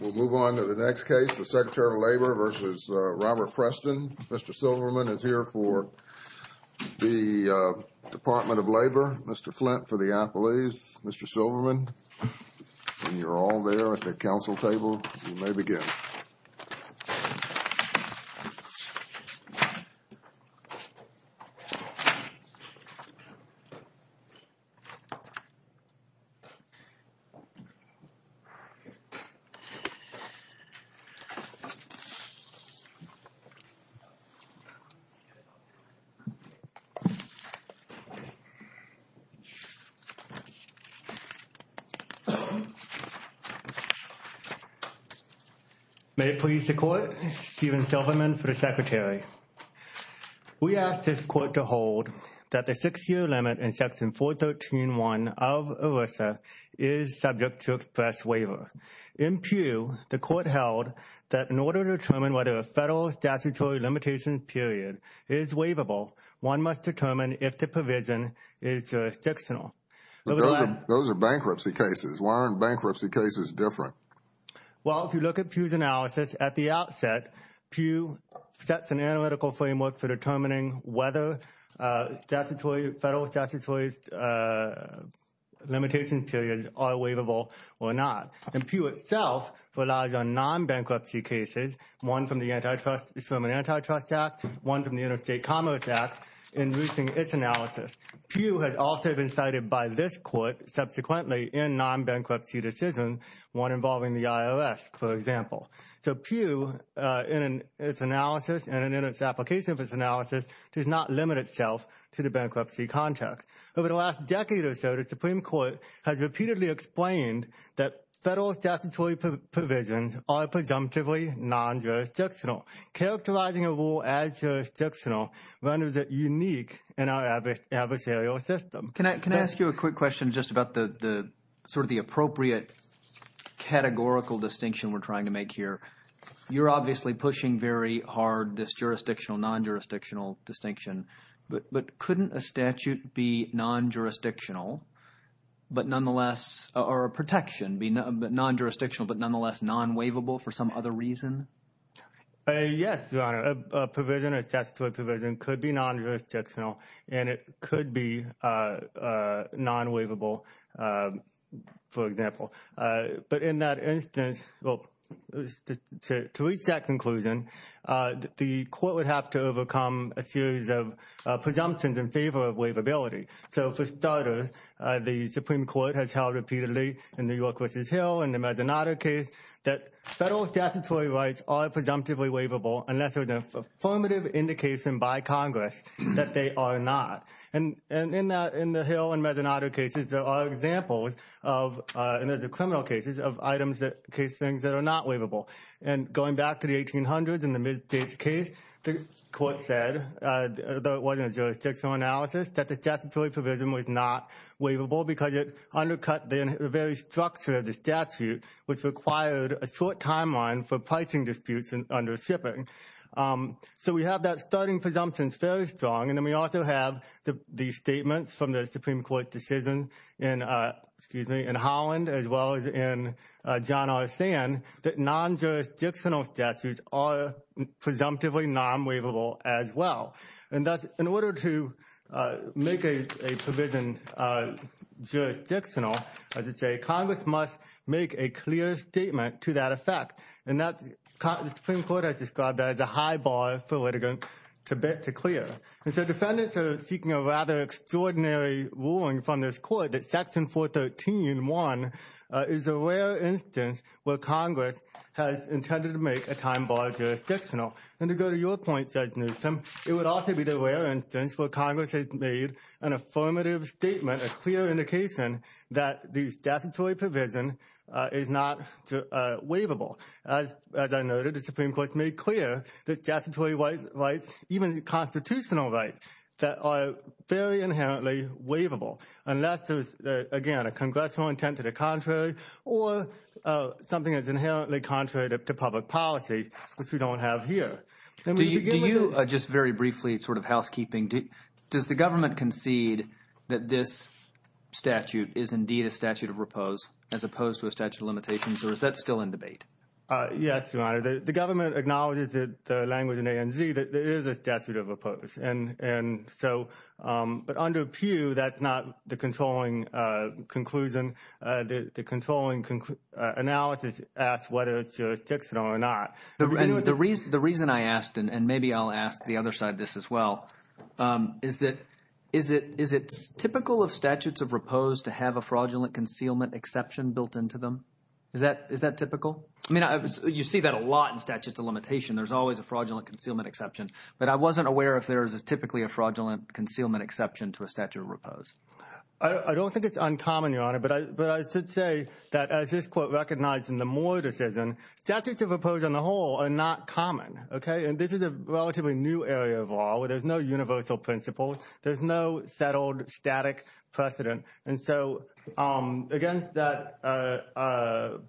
We'll move on to the next case, the Secretary of Labor versus Robert Preston. Mr. Silverman is here for the Department of Labor. Mr. Flint for the athletes. Mr. Silverman, when you're all there at the council table, you may begin. May it please the court, Steven Silverman for the secretary. We asked this court to hold that the six-year limit in section 413.1 of ERISA is subject to express waiver. In Pew, the court held that in order to determine whether a federal statutory limitation period is waivable, one must determine if the provision is jurisdictional. Those are bankruptcy cases. Why aren't bankruptcy cases different? Well, if you look at Pew's analysis at the outset, Pew sets an analytical framework for determining whether federal statutory limitations periods are waivable or not. And Pew itself relies on non-bankruptcy cases, one from the Antitrust Act, one from the Interstate Commerce Act, in reaching its analysis. Pew has also been cited by this court subsequently in non-bankruptcy decisions, one involving the IRS, for example. So Pew, in its analysis and in its application of its analysis, does not limit itself to the bankruptcy context. Over the last decade or so, the Supreme Court has repeatedly explained that federal statutory provisions are presumptively non-jurisdictional. Characterizing a rule as jurisdictional renders it unique in our adversarial system. Can I ask you a quick question just about the sort of the appropriate categorical distinction we're trying to make here? You're obviously pushing very hard this jurisdictional, non-jurisdictional distinction. But couldn't a statute be non-jurisdictional, but nonetheless, or a protection be non-jurisdictional, but nonetheless non-waivable for some other reason? Yes, Your Honor, a provision, a statutory provision could be non-jurisdictional and it could be non-waivable, for example. But in that instance, to reach that conclusion, the court would have to overcome a series of presumptions in favor of waivability. So for starters, the Supreme Court has held repeatedly in New York v. Hill and the Mazzanato case that federal statutory rights are presumptively waivable unless there's an affirmative indication by Congress that they are not. And in the Hill and Mazzanato cases, there are examples of, and there's a criminal cases of items that case things that are not waivable. And going back to the 1800s in the Mid-States case, the court said, though it wasn't a jurisdictional analysis, that the statutory provision was not waivable because it undercut the very structure of the statute, which required a short timeline for pricing disputes under shipping. So we have that starting presumption fairly strong, and then we also have the statements from the Supreme Court decision in Holland, as well as in John R. Sand, that non-jurisdictional statutes are presumptively non-waivable as well. And that's in order to make a provision jurisdictional, as I say, Congress must make a clear statement to that effect. And that's the Supreme Court has described as a high bar for litigants to clear. And so defendants are seeking a rather extraordinary ruling from this court that Section 413.1 is a rare instance where Congress has intended to make a time bar jurisdictional. And to go to your point, Judge Newsom, it would also be the rare instance where Congress has made an affirmative statement, a clear indication that the statutory provision is not waivable. As I noted, the Supreme Court has made clear that statutory rights, even constitutional rights, that are very inherently waivable, unless there's, again, a congressional intent to the contrary or something that's inherently contrary to public policy, which we don't have here. Do you, just very briefly, sort of housekeeping, does the government concede that this statute is indeed a statute of repose as opposed to a statute of limitations, or is that still in debate? Yes, Your Honor, the government acknowledges that the language in ANZ that there is a statute of repose. And so, but under Pew, that's not the controlling conclusion. The controlling analysis asks whether it's jurisdictional or not. The reason I asked, and maybe I'll ask the other side this as well, is that is it typical of statutes of repose to have a fraudulent concealment exception built into them? Is that typical? I mean, you see that a lot in statutes of limitation. There's always a fraudulent concealment exception. But I wasn't aware if there is typically a fraudulent concealment exception to a statute of repose. I don't think it's uncommon, Your Honor, but I should say that as this Court recognized in the Moore decision, statutes of repose on the whole are not common, okay? And this is a relatively new area of law where there's no universal principle. There's no settled, static precedent. And so, against that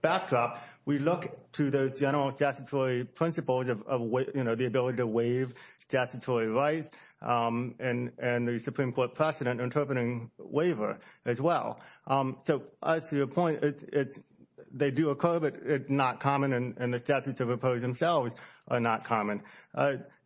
backdrop, we look to those general statutory principles of, you know, the ability to waive statutory rights and the Supreme Court precedent interpreting waiver as well. So, as to your point, they do occur, but it's not common, and the statutes of repose themselves are not common.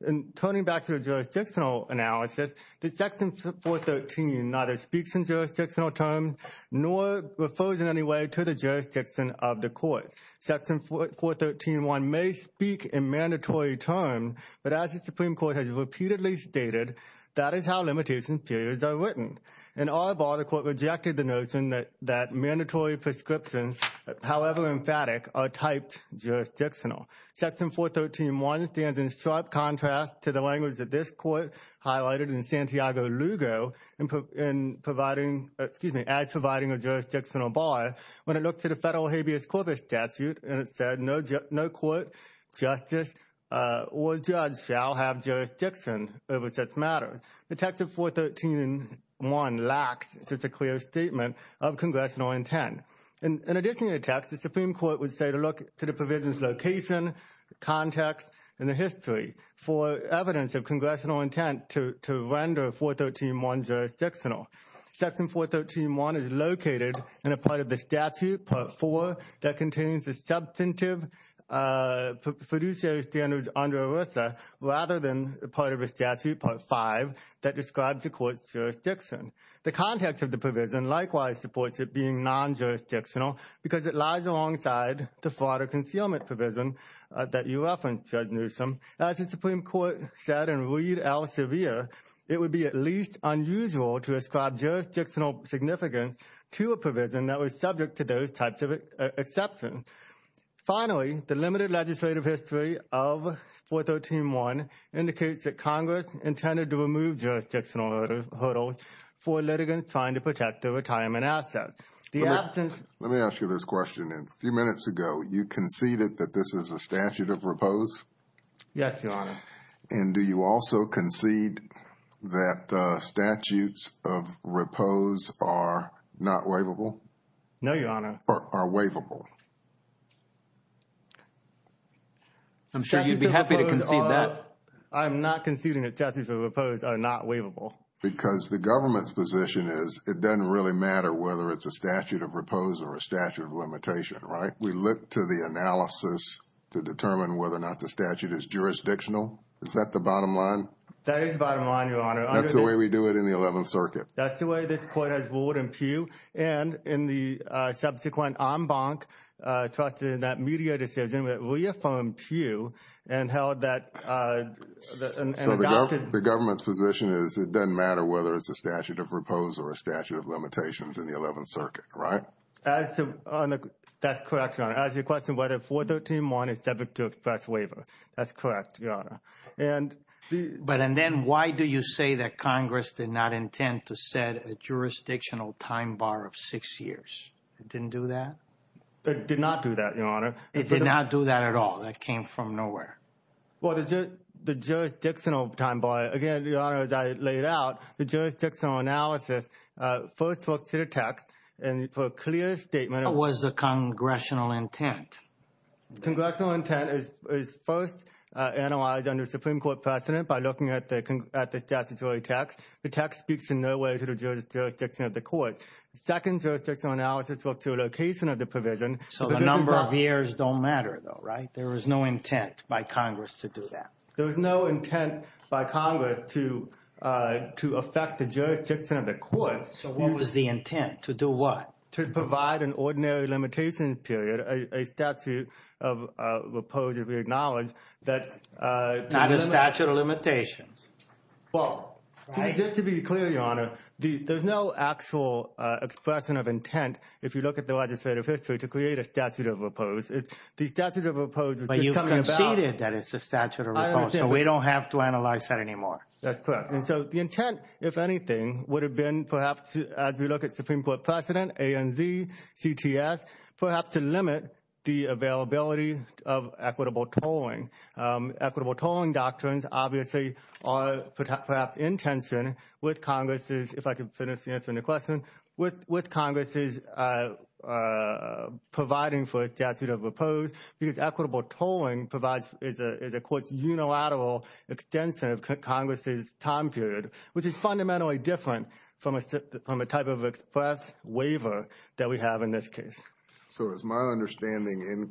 In turning back to the jurisdictional analysis, the Section 413 neither speaks in jurisdictional terms nor refers in any way to the jurisdiction of the Court. Section 413.1 may speak in mandatory terms, but as the Supreme Court has repeatedly stated, that is how limitation periods are written. In our bar, the Court rejected the notion that mandatory prescriptions, however emphatic, are typed jurisdictional. Section 413.1 stands in sharp contrast to the language that this Court highlighted in Santiago Lugo in providing, excuse me, as providing a jurisdictional bar when it looked at a federal habeas corpus statute, and it said no court, justice, or judge shall have jurisdiction over such matter. The text of 413.1 lacks such a clear statement of congressional intent. In addition to the text, the Supreme Court would say to look to the provision's location, context, and the history for evidence of congressional intent to render 413.1 jurisdictional. Section 413.1 is located in a part of the statute, Part 4, that contains the substantive fiduciary standards under ERISA rather than a part of a statute, Part 5, that describes the Court's jurisdiction. The context of the provision likewise supports it being non-jurisdictional because it lies alongside the fraud or concealment provision that you referenced, Judge Newsom. As the Supreme Court said in Reed L. Sevier, it would be at least unusual to ascribe jurisdictional significance to a provision that was subject to those types of exceptions. Finally, the limited legislative history of 413.1 indicates that Congress intended to remove jurisdictional hurdles for litigants trying to protect their retirement assets. The absence... Let me ask you this question. A few minutes ago, you conceded that this is a statute of repose? Yes, Your Honor. And do you also concede that the statutes of repose are not waivable? No, Your Honor. Or are waivable? I'm sure you'd be happy to concede that. I'm not conceding that statutes of repose are not waivable. Because the government's position is it doesn't really matter whether it's a statute of repose or a statute of limitation, right? We look to the analysis to determine whether or not the statute is jurisdictional. Is that the bottom line? That is the bottom line, Your Honor. That's the way we do it in the Eleventh Circuit. That's the way this Court has ruled in Peugh and in the subsequent en banc, trusted in that media decision that reaffirmed Peugh and held that... The government's position is it doesn't matter whether it's a statute of repose or a statute of limitations in the Eleventh Circuit, right? That's correct, Your Honor. As to the question whether 413.1 is subject to a press waiver. That's correct, Your Honor. But then why do you say that Congress did not intend to set a jurisdictional time bar of six years? It didn't do that? It did not do that, Your Honor. It did not do that at all? That came from nowhere? Well, the jurisdictional time bar, again, Your Honor, as I laid out, the jurisdictional analysis first looked to the text and put a clear statement. What was the congressional intent? Congressional intent is first analyzed under Supreme Court precedent by looking at the statutory text. The text speaks in no way to the jurisdiction of the Court. Second, jurisdictional analysis looked to a location of the provision. So the number of years don't matter, though, right? There was no intent by Congress to do that. There was no intent by Congress to affect the jurisdiction of the Court. So what was the intent? To do what? To provide an ordinary limitations period, a statute of repose, if we acknowledge that. Not a statute of limitations. Well, just to be clear, Your Honor, there's no actual expression of intent. If you look at the legislative history to create a statute of repose, the statute of repose. But you've conceded that it's a statute of repose, so we don't have to analyze that anymore. That's correct. And so the intent, if anything, would have been perhaps, as we look at Supreme Court precedent, ANZ, CTS, perhaps to limit the availability of equitable tolling. Equitable tolling doctrines obviously are perhaps in tension with Congress's, if I can finish answering the question, with Congress's providing for a statute of repose. Because equitable tolling provides, is a, quote, unilateral extension of Congress's time period, which is fundamentally different from a type of express waiver that we have in this case. So is my understanding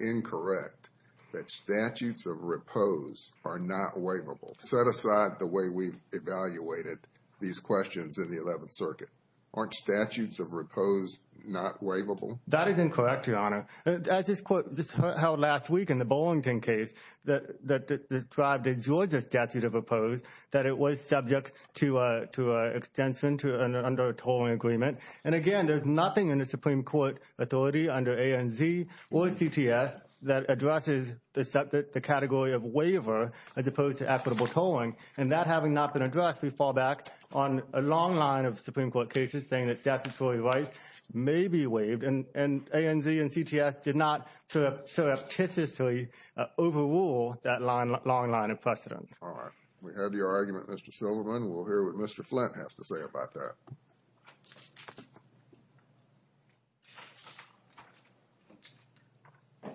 incorrect that statutes of repose are not waivable? Set aside the way we've evaluated these questions in the 11th Circuit. Aren't statutes of repose not waivable? That is incorrect, Your Honor. As this court held last week in the Burlington case that described a Georgia statute of repose, that it was subject to an extension under a tolling agreement. And again, there's nothing in the Supreme Court authority under ANZ or CTS that addresses the category of waiver as opposed to equitable tolling. And that having not been addressed, we fall back on a long line of Supreme Court cases saying that statutory rights may be waived. And ANZ and CTS did not surreptitiously overrule that line, long line of precedent. All right. We have your argument, Mr. Silverman. We'll hear what Mr. Flint has to say about that. Good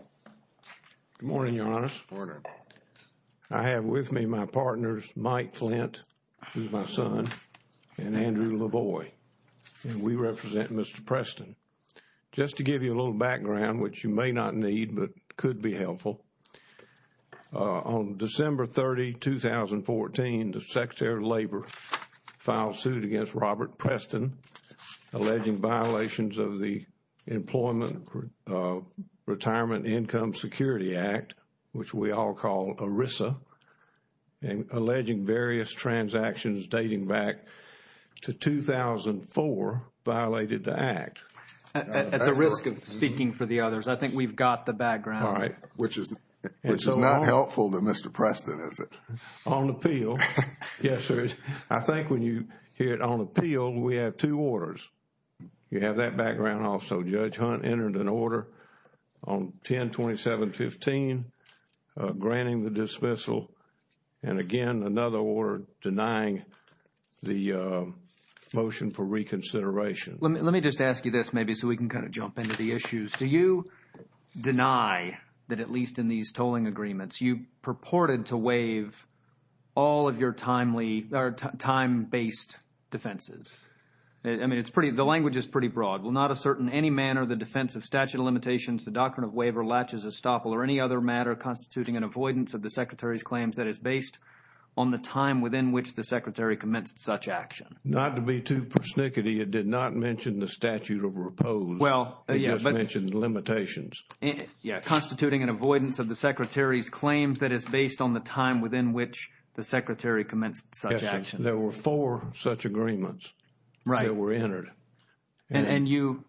morning, Your Honor. Morning. I have with me my partners, Mike Flint, who's my son, and Andrew LaVoy. And we represent Mr. Preston. Just to give you a little background, which you may not need, but could be helpful. On December 30, 2014, the Secretary of Labor filed suit against Robert Preston, alleging violations of the Employment Retirement Income Security Act, which we all call ERISA, and alleging various transactions dating back to 2004 violated the act. At the risk of speaking for the others, I think we've got the background. All right. Which is not helpful to Mr. Preston, is it? On appeal, yes, sir. I think when you hear it on appeal, we have two orders. You have that background also. Judge Hunt entered an order on 10-27-15, granting the dismissal. And again, another order denying the motion for reconsideration. Let me just ask you this, maybe, so we can kind of jump into the issues. Do you deny that at least in these tolling agreements, you purported to waive all of your time-based defenses? I mean, the language is pretty broad. Will not assert in any manner the defense of statute of limitations, the doctrine of waiver, latches, estoppel, or any other matter constituting an avoidance of the Secretary's claims that is based on the time within which the Secretary commenced such action? Not to be too persnickety, it did not mention the statute of repose. It just mentioned limitations. Yeah. Constituting an avoidance of the Secretary's claims that is based on the time within which the Secretary commenced such action. There were four such agreements that were entered. And you,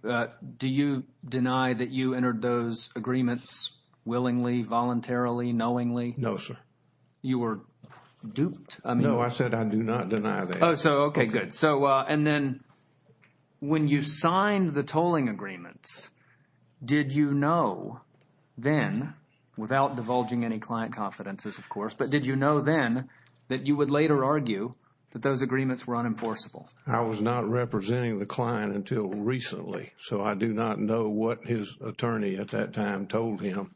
do you deny that you entered those agreements willingly, voluntarily, knowingly? No, sir. You were duped? No, I said I do not deny that. Oh, so, okay, good. So, and then when you signed the tolling agreements, did you know then, without divulging any client confidences, of course, but did you know then that you would later argue that those agreements were unenforceable? I was not representing the client until recently, so I do not know what his attorney at that time told him,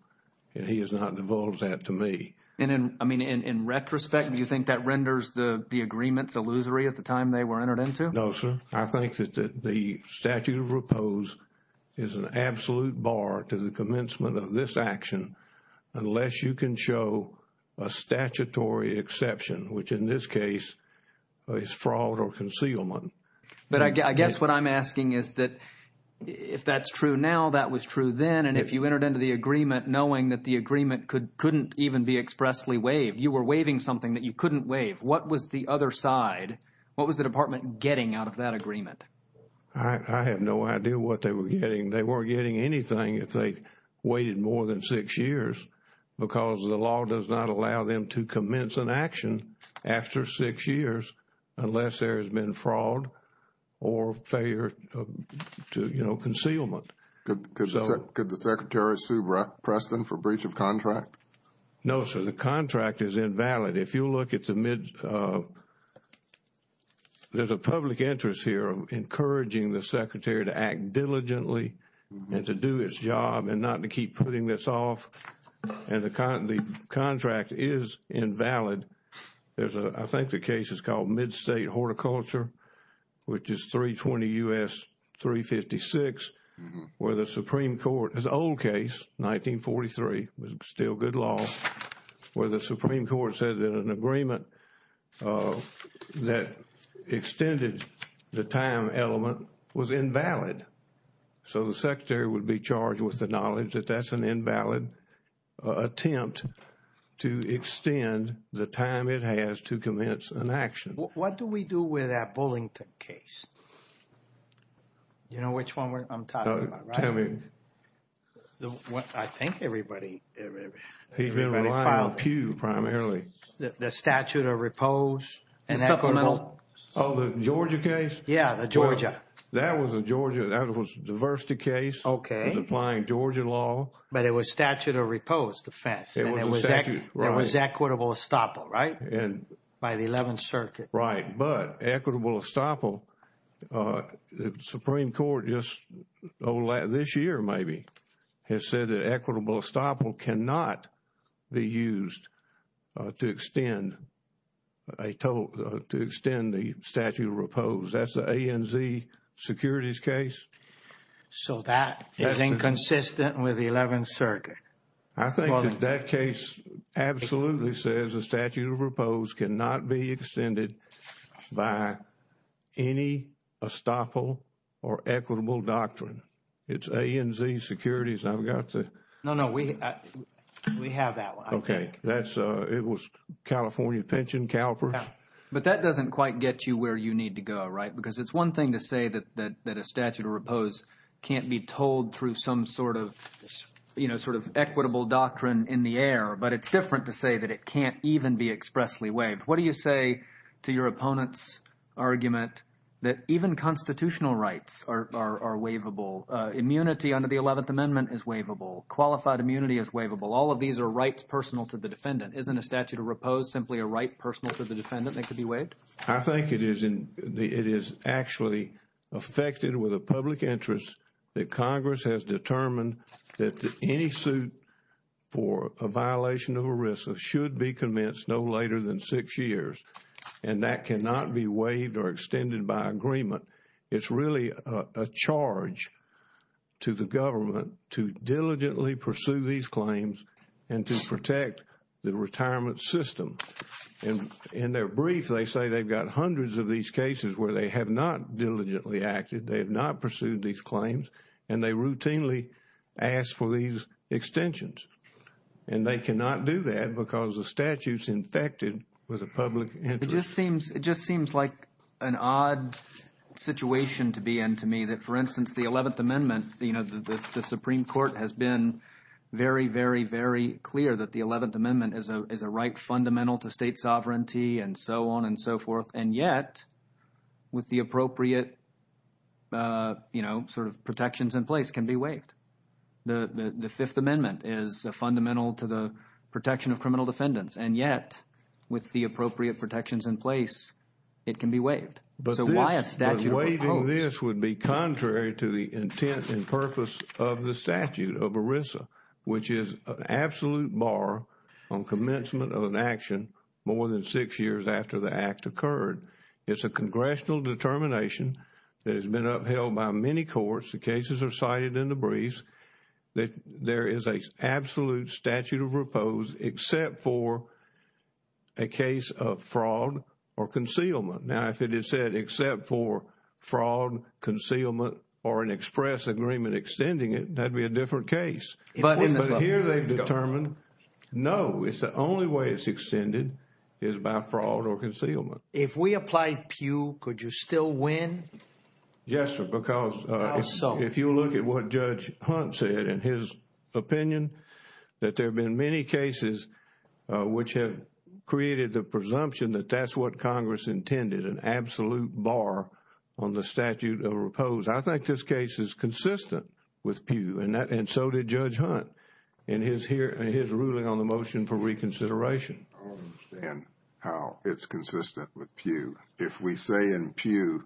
and he has not divulged that to me. And in, I mean, in retrospect, do you think that renders the agreements illusory at the time they were entered into? No, sir. I think that the statute of repose is an absolute bar to the commencement of this action unless you can show a statutory exception, which in this case is fraud or concealment. But I guess what I'm asking is that if that's true now, that was true then, and if you entered into the agreement knowing that the agreement couldn't even be expressly waived, you were waiving something that you couldn't waive, what was the other side, what was the department getting out of that agreement? I have no idea what they were getting. They weren't getting anything if they waited more than six years, because the law does not allow them to commence an action after six years unless there has been fraud or failure to, you know, concealment. Could the Secretary sue Preston for breach of contract? No, sir. The contract is invalid. If you look at the mid, there's a public interest here of encouraging the Secretary to act diligently and to do its job and not to keep putting this off, and the contract is invalid. There's a, I think the case is called Mid-State Horticulture, which is 320 U.S. 356, where the Supreme Court, it's an old case, 1943, was still good law, where the Supreme Court said that an agreement that extended the time element was invalid. So the Secretary would be charged with the knowledge that that's an invalid attempt to extend the time it has to commence an action. What do we do with that Bullington case? You know which one I'm talking about, right? Tell me. I think everybody. He's been relying on Pew primarily. The statute of repose. And supplemental. Oh, the Georgia case? Yeah, the Georgia. That was a Georgia, that was a diversity case. Okay. It was applying Georgia law. But it was statute of repose, the FESS. And it was equitable estoppel, right? And by the 11th Circuit. Right. But equitable estoppel, the Supreme Court just, this year maybe, has said that equitable estoppel cannot be used to extend the statute of repose. That's the ANZ securities case. So that is inconsistent with the 11th Circuit. I think that that case absolutely says the statute of repose cannot be extended by any estoppel or equitable doctrine. It's ANZ securities. I've got to. No, no, we have that one. Okay. That's, it was California Pension CalPERS. But that doesn't quite get you where you need to go, right? Because it's one thing to say that a statute of repose can't be told through some sort of, you know, sort of equitable doctrine in the air. But it's different to say that it can't even be expressly waived. What do you say to your opponent's argument that even constitutional rights are waivable? Immunity under the 11th Amendment is waivable. Qualified immunity is waivable. All of these are rights personal to the defendant. Isn't a statute of repose simply a right personal to the defendant that could be waived? I think it is in the, it is actually affected with a public interest that Congress has determined that any suit for a violation of ERISA should be commenced no later than six years. And that cannot be waived or extended by agreement. It's really a charge to the government to diligently pursue these claims and to protect the retirement system. And in their brief, they say they've got hundreds of these cases where they have not diligently acted. They have not pursued these claims. And they routinely ask for these extensions. And they cannot do that because the statute's infected with a public interest. It just seems, it just seems like an odd situation to be in to me. That, for instance, the 11th Amendment, you know, the Supreme Court has been very, very, very clear that the 11th Amendment is a right fundamental to state sovereignty and so on and so forth. And yet, with the appropriate, you know, sort of protections in place, it can be waived. The Fifth Amendment is a fundamental to the protection of criminal defendants. And yet, with the appropriate protections in place, it can be waived. But waiving this would be contrary to the intent and purpose of the statute of ERISA, which is an absolute bar on commencement of an action more than six years after the act occurred. It's a congressional determination that has been upheld by many courts. The cases are cited in the briefs that there is a absolute statute of repose except for a case of fraud or concealment. Now, if it is said except for fraud, concealment or an express agreement extending it, that'd be a different case. But here they've determined, no, it's the only way it's extended is by fraud or concealment. If we apply PEW, could you still win? Yes, sir, because if you look at what Judge Hunt said in his opinion, that there have been many cases which have created the presumption that that's what Congress intended, an absolute bar on the statute of repose. I think this case is consistent with PEW, and so did Judge Hunt in his ruling on the motion for reconsideration. I don't understand how it's consistent with PEW. If we say in PEW,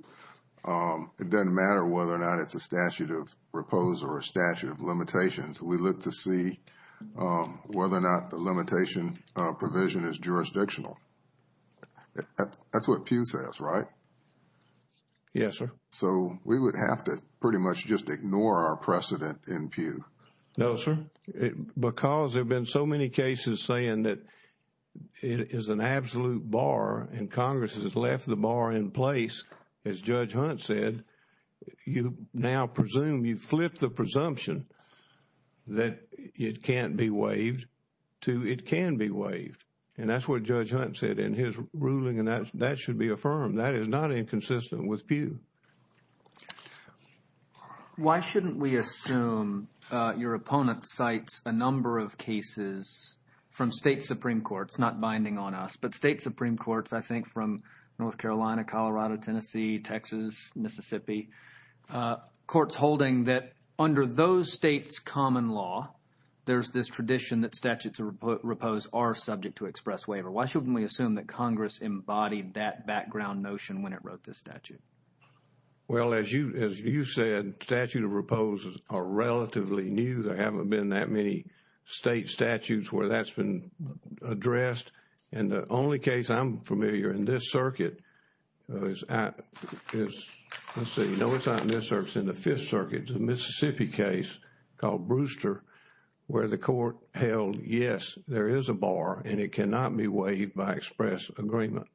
it doesn't matter whether or not it's a statute of repose or a statute of limitations. We look to see whether or not the limitation provision is jurisdictional. That's what PEW says, right? Yes, sir. So we would have to pretty much just ignore our precedent in PEW. No, sir, because there have been so many cases saying that it is an absolute bar and Congress has left the bar in place. As Judge Hunt said, you now presume, you flip the presumption that it can't be waived to it can be waived. And that's what Judge Hunt said in his ruling, and that should be affirmed. That is not inconsistent with PEW. Why shouldn't we assume your opponent cites a number of cases from state Supreme Courts, not binding on us, but state Supreme Courts, I think from North Carolina, Colorado, Tennessee, Texas, Mississippi, courts holding that under those states' common law, there's this tradition that statutes of repose are subject to express waiver. Why shouldn't we assume that Congress embodied that background notion when it wrote this statute? Well, as you said, statute of repose are relatively new. There haven't been that many state statutes where that's been addressed. And the only case I'm familiar in this circuit is, let's see, no, it's not in this circuit, it's in the Fifth Circuit, the Mississippi case called Brewster, where the court held, yes, there is a bar and it cannot be waived by express agreement.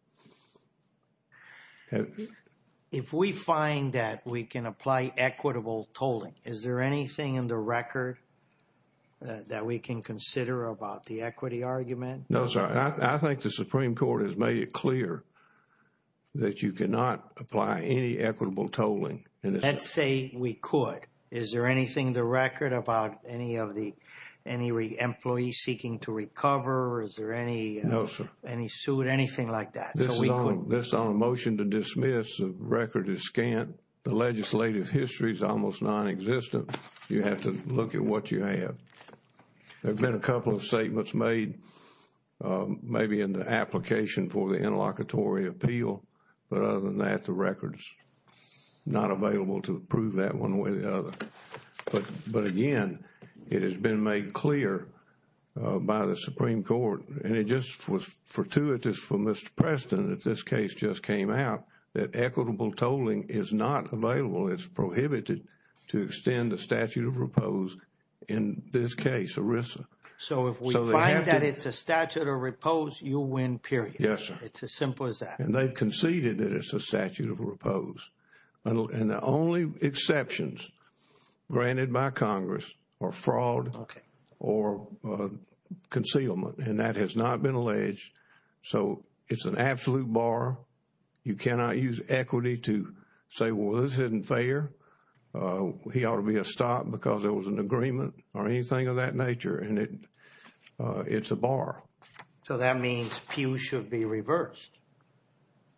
If we find that we can apply equitable tolling, is there anything in the record that we can consider about the equity argument? No, sir. I think the Supreme Court has made it clear that you cannot apply any equitable tolling. Let's say we could. Is there anything in the record about any of the employees seeking to recover? Is there any suit, anything like that? This is on a motion to dismiss. The record is scant. The legislative history is almost non-existent. You have to look at what you have. There have been a couple of statements made, maybe in the application for the interlocutory appeal. But other than that, the record is not available to prove that one way or the other. But again, it has been made clear by the Supreme Court, and it just was fortuitous for Mr. Preston that this case just came out, that equitable tolling is not available. It's prohibited to extend the statute of repose in this case, ERISA. So if we find that it's a statute of repose, you win, period. Yes, sir. It's as simple as that. And the only exceptions granted by Congress are fraud or concealment. And that has not been alleged. So it's an absolute bar. You cannot use equity to say, well, this isn't fair. He ought to be stopped because there was an agreement or anything of that nature. And it's a bar. So that means pews should be reversed.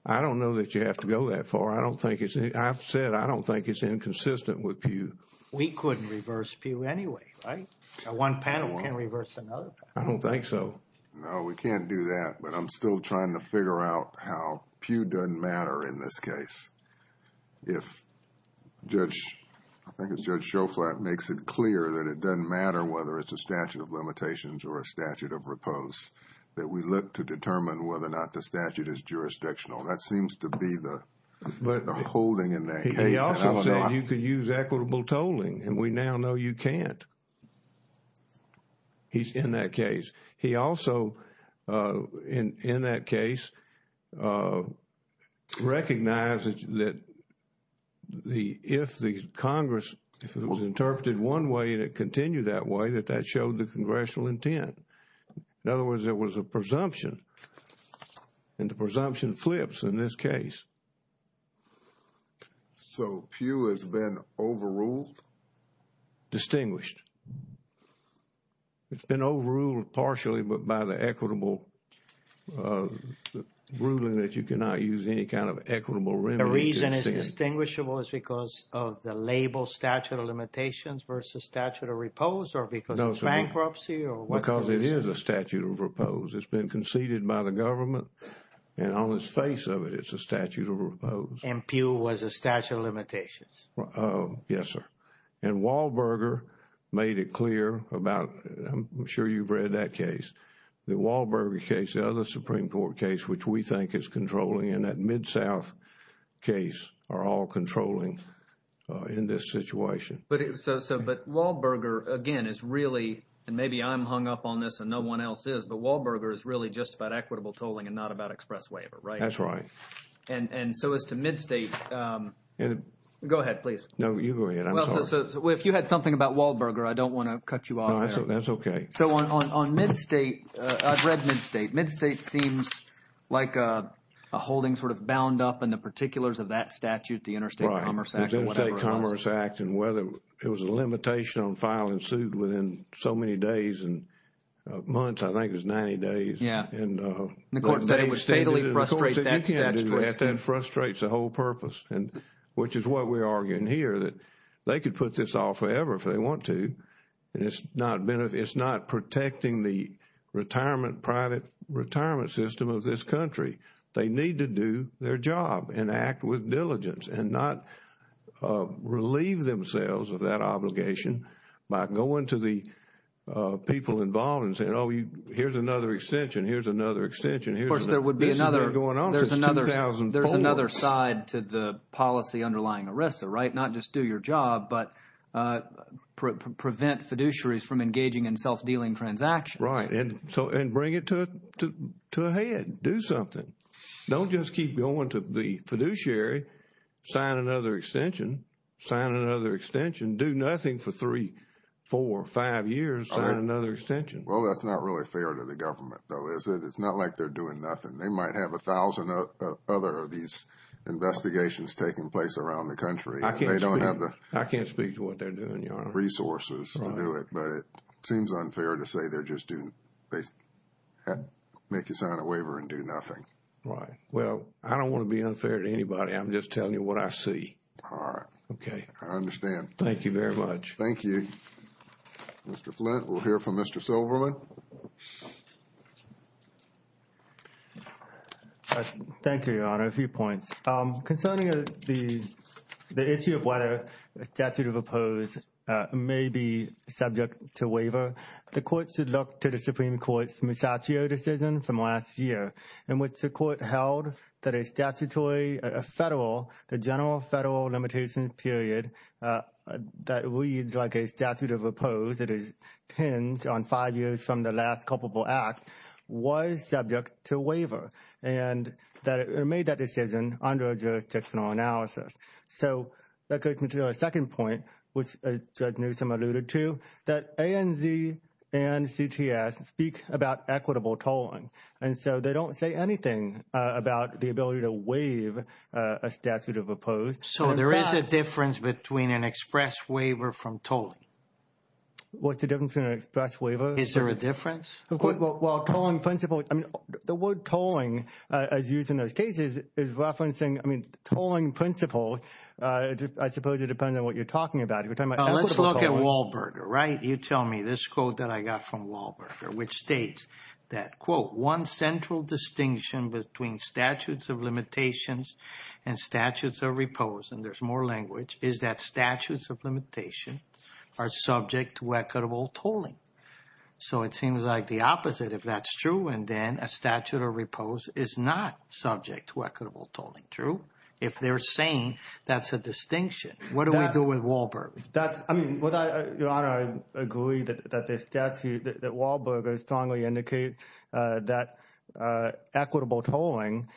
I don't know that you have to go that far. I've said I don't think it's inconsistent with pew. We couldn't reverse pew anyway, right? One panel can't reverse another panel. I don't think so. No, we can't do that. But I'm still trying to figure out how pew doesn't matter in this case. If Judge, I think it's Judge Schoflat makes it clear that it doesn't matter whether it's a statute of limitations or a statute of repose, that we look to determine whether or not the statute is jurisdictional. That seems to be the holding in that case. He also said you could use equitable tolling. And we now know you can't. He's in that case. He also, in that case, recognized that if the Congress, if it was interpreted one way and it continued that way, that that showed the congressional intent. In other words, there was a presumption. And the presumption flips in this case. So, pew has been overruled? Distinguished. It's been overruled partially, but by the equitable ruling that you cannot use any kind of equitable remedy. The reason it's distinguishable is because of the label statute of limitations versus statute of repose or because of bankruptcy or what? Because it is a statute of repose. It's been conceded by the government and on its face of it, it's a statute of repose. And pew was a statute of limitations? Yes, sir. And Wahlberger made it clear about, I'm sure you've read that case. The Wahlberger case, the other Supreme Court case, which we think is controlling in that Mid-South case are all controlling in this situation. But so, but Wahlberger, again, is really, and maybe I'm hung up on this and no one else is, but Wahlberger is really just about equitable tolling and not about express waiver, right? That's right. And so as to Mid-State, go ahead, please. No, you go ahead, I'm sorry. Well, so if you had something about Wahlberger, I don't want to cut you off. No, that's OK. So on Mid-State, I've read Mid-State. Mid-State seems like a holding sort of bound up in the particulars of that statute, the Interstate Commerce Act or whatever it was. The Interstate Commerce Act and whether it was a limitation on filing suit within so many days and months, I think it was 90 days. Yeah. And the Court said it would fatally frustrate that statute. The Court said you can't do that. That frustrates the whole purpose, which is what we're arguing here, that they could put this off forever if they want to. And it's not protecting the retirement, private retirement system of this country. They need to do their job and act with diligence and not relieve themselves of that obligation by going to the people involved and saying, oh, here's another extension, here's another extension. Of course, there would be another. This has been going on since 2004. There's another side to the policy underlying ERISA, right? Not just do your job, but prevent fiduciaries from engaging in self-dealing transactions. Right. And bring it to a head. Do something. Don't just keep going to the fiduciary, sign another extension, sign another extension, do nothing for three, four, five years, sign another extension. Well, that's not really fair to the government, though, is it? It's not like they're doing nothing. They might have a thousand other of these investigations taking place around the country. There's a lot of resources to do it, but it seems unfair to say they're just doing, make you sign a waiver and do nothing. Right. Well, I don't want to be unfair to anybody. I'm just telling you what I see. All right. Okay. I understand. Thank you very much. Thank you. Mr. Flint, we'll hear from Mr. Silverman. Thank you, Your Honor. A few points. Concerning the issue of whether a statute of oppose may be subject to waiver, the Court should look to the Supreme Court's Musatio decision from last year, in which the Court held that a statutory federal, the general federal limitation period that reads like a statute of oppose that is pinned on five years from the last culpable act, was subject to waiver. And that it made that decision under a jurisdictional analysis. So, that takes me to our second point, which Judge Newsom alluded to, that ANZ and CTS speak about equitable tolling. And so, they don't say anything about the ability to waive a statute of oppose. So, there is a difference between an express waiver from tolling? What's the difference between an express waiver? Is there a difference? Well, tolling principle, I mean, the word tolling, as used in those cases, is referencing, I mean, tolling principle. I suppose it depends on what you're talking about. Let's look at Wahlberger, right? You tell me this quote that I got from Wahlberger, which states that, quote, one central distinction between statutes of limitations and statutes of oppose, and there's more language, is that statutes of limitation are subject to equitable tolling. So, it seems like the opposite, if that's true, and then a statute of repose is not subject to equitable tolling. True? If they're saying that's a distinction, what do we do with Wahlberger? I mean, Your Honor, I agree that Wahlberger strongly indicates that equitable tolling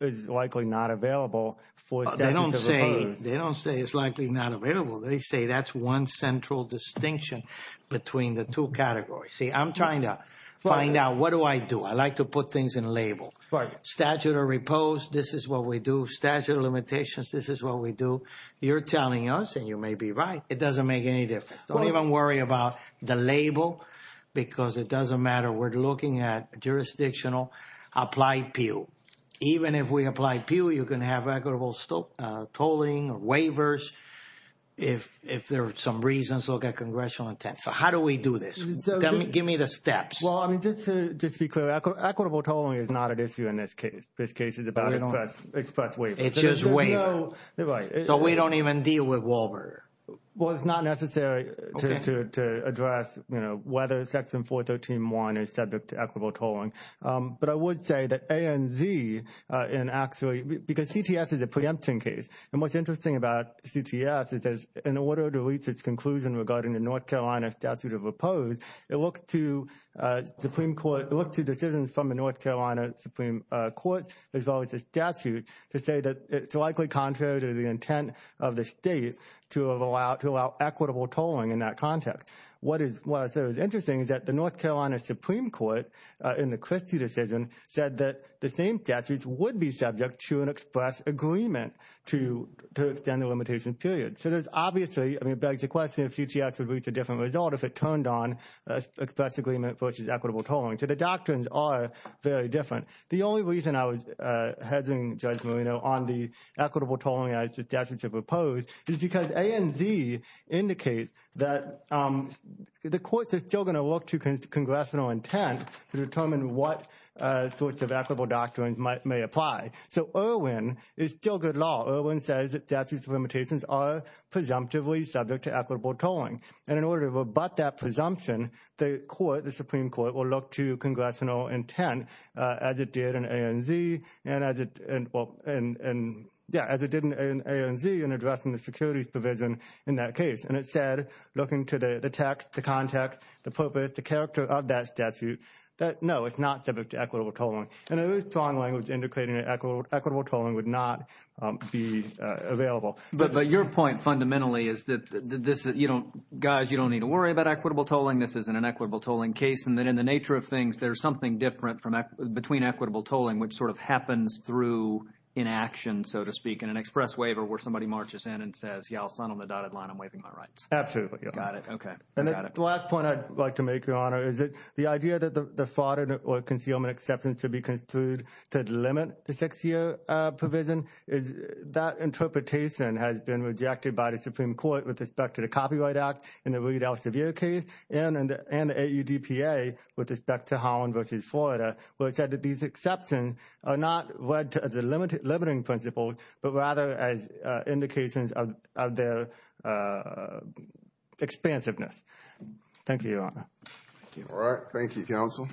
is likely not available for statutes of oppose. They don't say it's likely not available. They say that's one central distinction between the two categories. See, I'm trying to find out, what do I do? I like to put things in a label. Statute of repose, this is what we do. Statute of limitations, this is what we do. You're telling us, and you may be right, it doesn't make any difference. Don't even worry about the label because it doesn't matter. We're looking at jurisdictional applied PUE. Even if we apply PUE, you can have equitable tolling or waivers. If there are some reasons, they'll get congressional intent. So how do we do this? Give me the steps. Well, I mean, just to be clear, equitable tolling is not an issue in this case. This case is about express waiver. It's just waiver. Right. So we don't even deal with Wahlberger? Well, it's not necessary to address, you know, whether Section 413.1 is subject to equitable tolling. But I would say that A and Z, and actually, because CTS is a preemption case, and what's interesting about CTS is that in order to reach its conclusion regarding the North Carolina Statute of Opposed, it looked to Supreme Court, it looked to decisions from the North Carolina Supreme Court, as well as the statute, to say that it's likely contrary to the intent of the state to allow equitable tolling in that context. What is interesting is that the North Carolina Supreme Court in the Christie decision said that the same statutes would be subject to an express agreement to extend the limitation period. So there's obviously, I mean, it begs the question if CTS would reach a different result if it turned on express agreement versus equitable tolling. So the doctrines are very different. The only reason I was hesitating, Judge Marino, on the equitable tolling as the statute should propose is because A and Z indicates that the courts are still going to look to congressional intent to determine what sorts of equitable doctrines may apply. So Irwin is still good law. Irwin says that statute's limitations are presumptively subject to equitable tolling. And in order to rebut that presumption, the Supreme Court will look to congressional intent as it did in A and Z in addressing the securities provision in that case. And it said, looking to the text, the context, the purpose, the character of that statute, that no, it's not subject to equitable tolling. And it was strong language indicating that equitable tolling would not be available. But your point fundamentally is that, guys, you don't need to worry about equitable tolling. This isn't an equitable tolling case. And then in the nature of things, there's something different between equitable tolling, which sort of happens through inaction, so to speak, in an express waiver where somebody marches in and says, yeah, I'll sign on the dotted line, I'm waiving my rights. Absolutely. Got it. And the last point I'd like to make, Your Honor, is that the idea that the fraud or concealment exceptions should be construed to limit the six-year provision, that interpretation has been rejected by the Supreme Court with respect to the Copyright Act in the Reed L. Sevier case and the AUDPA with respect to Holland v. Florida, where it said that these exceptions are not read as a limiting principle, but rather as indications of their expansiveness. Thank you, Your Honor. All right. Thank you, counsel.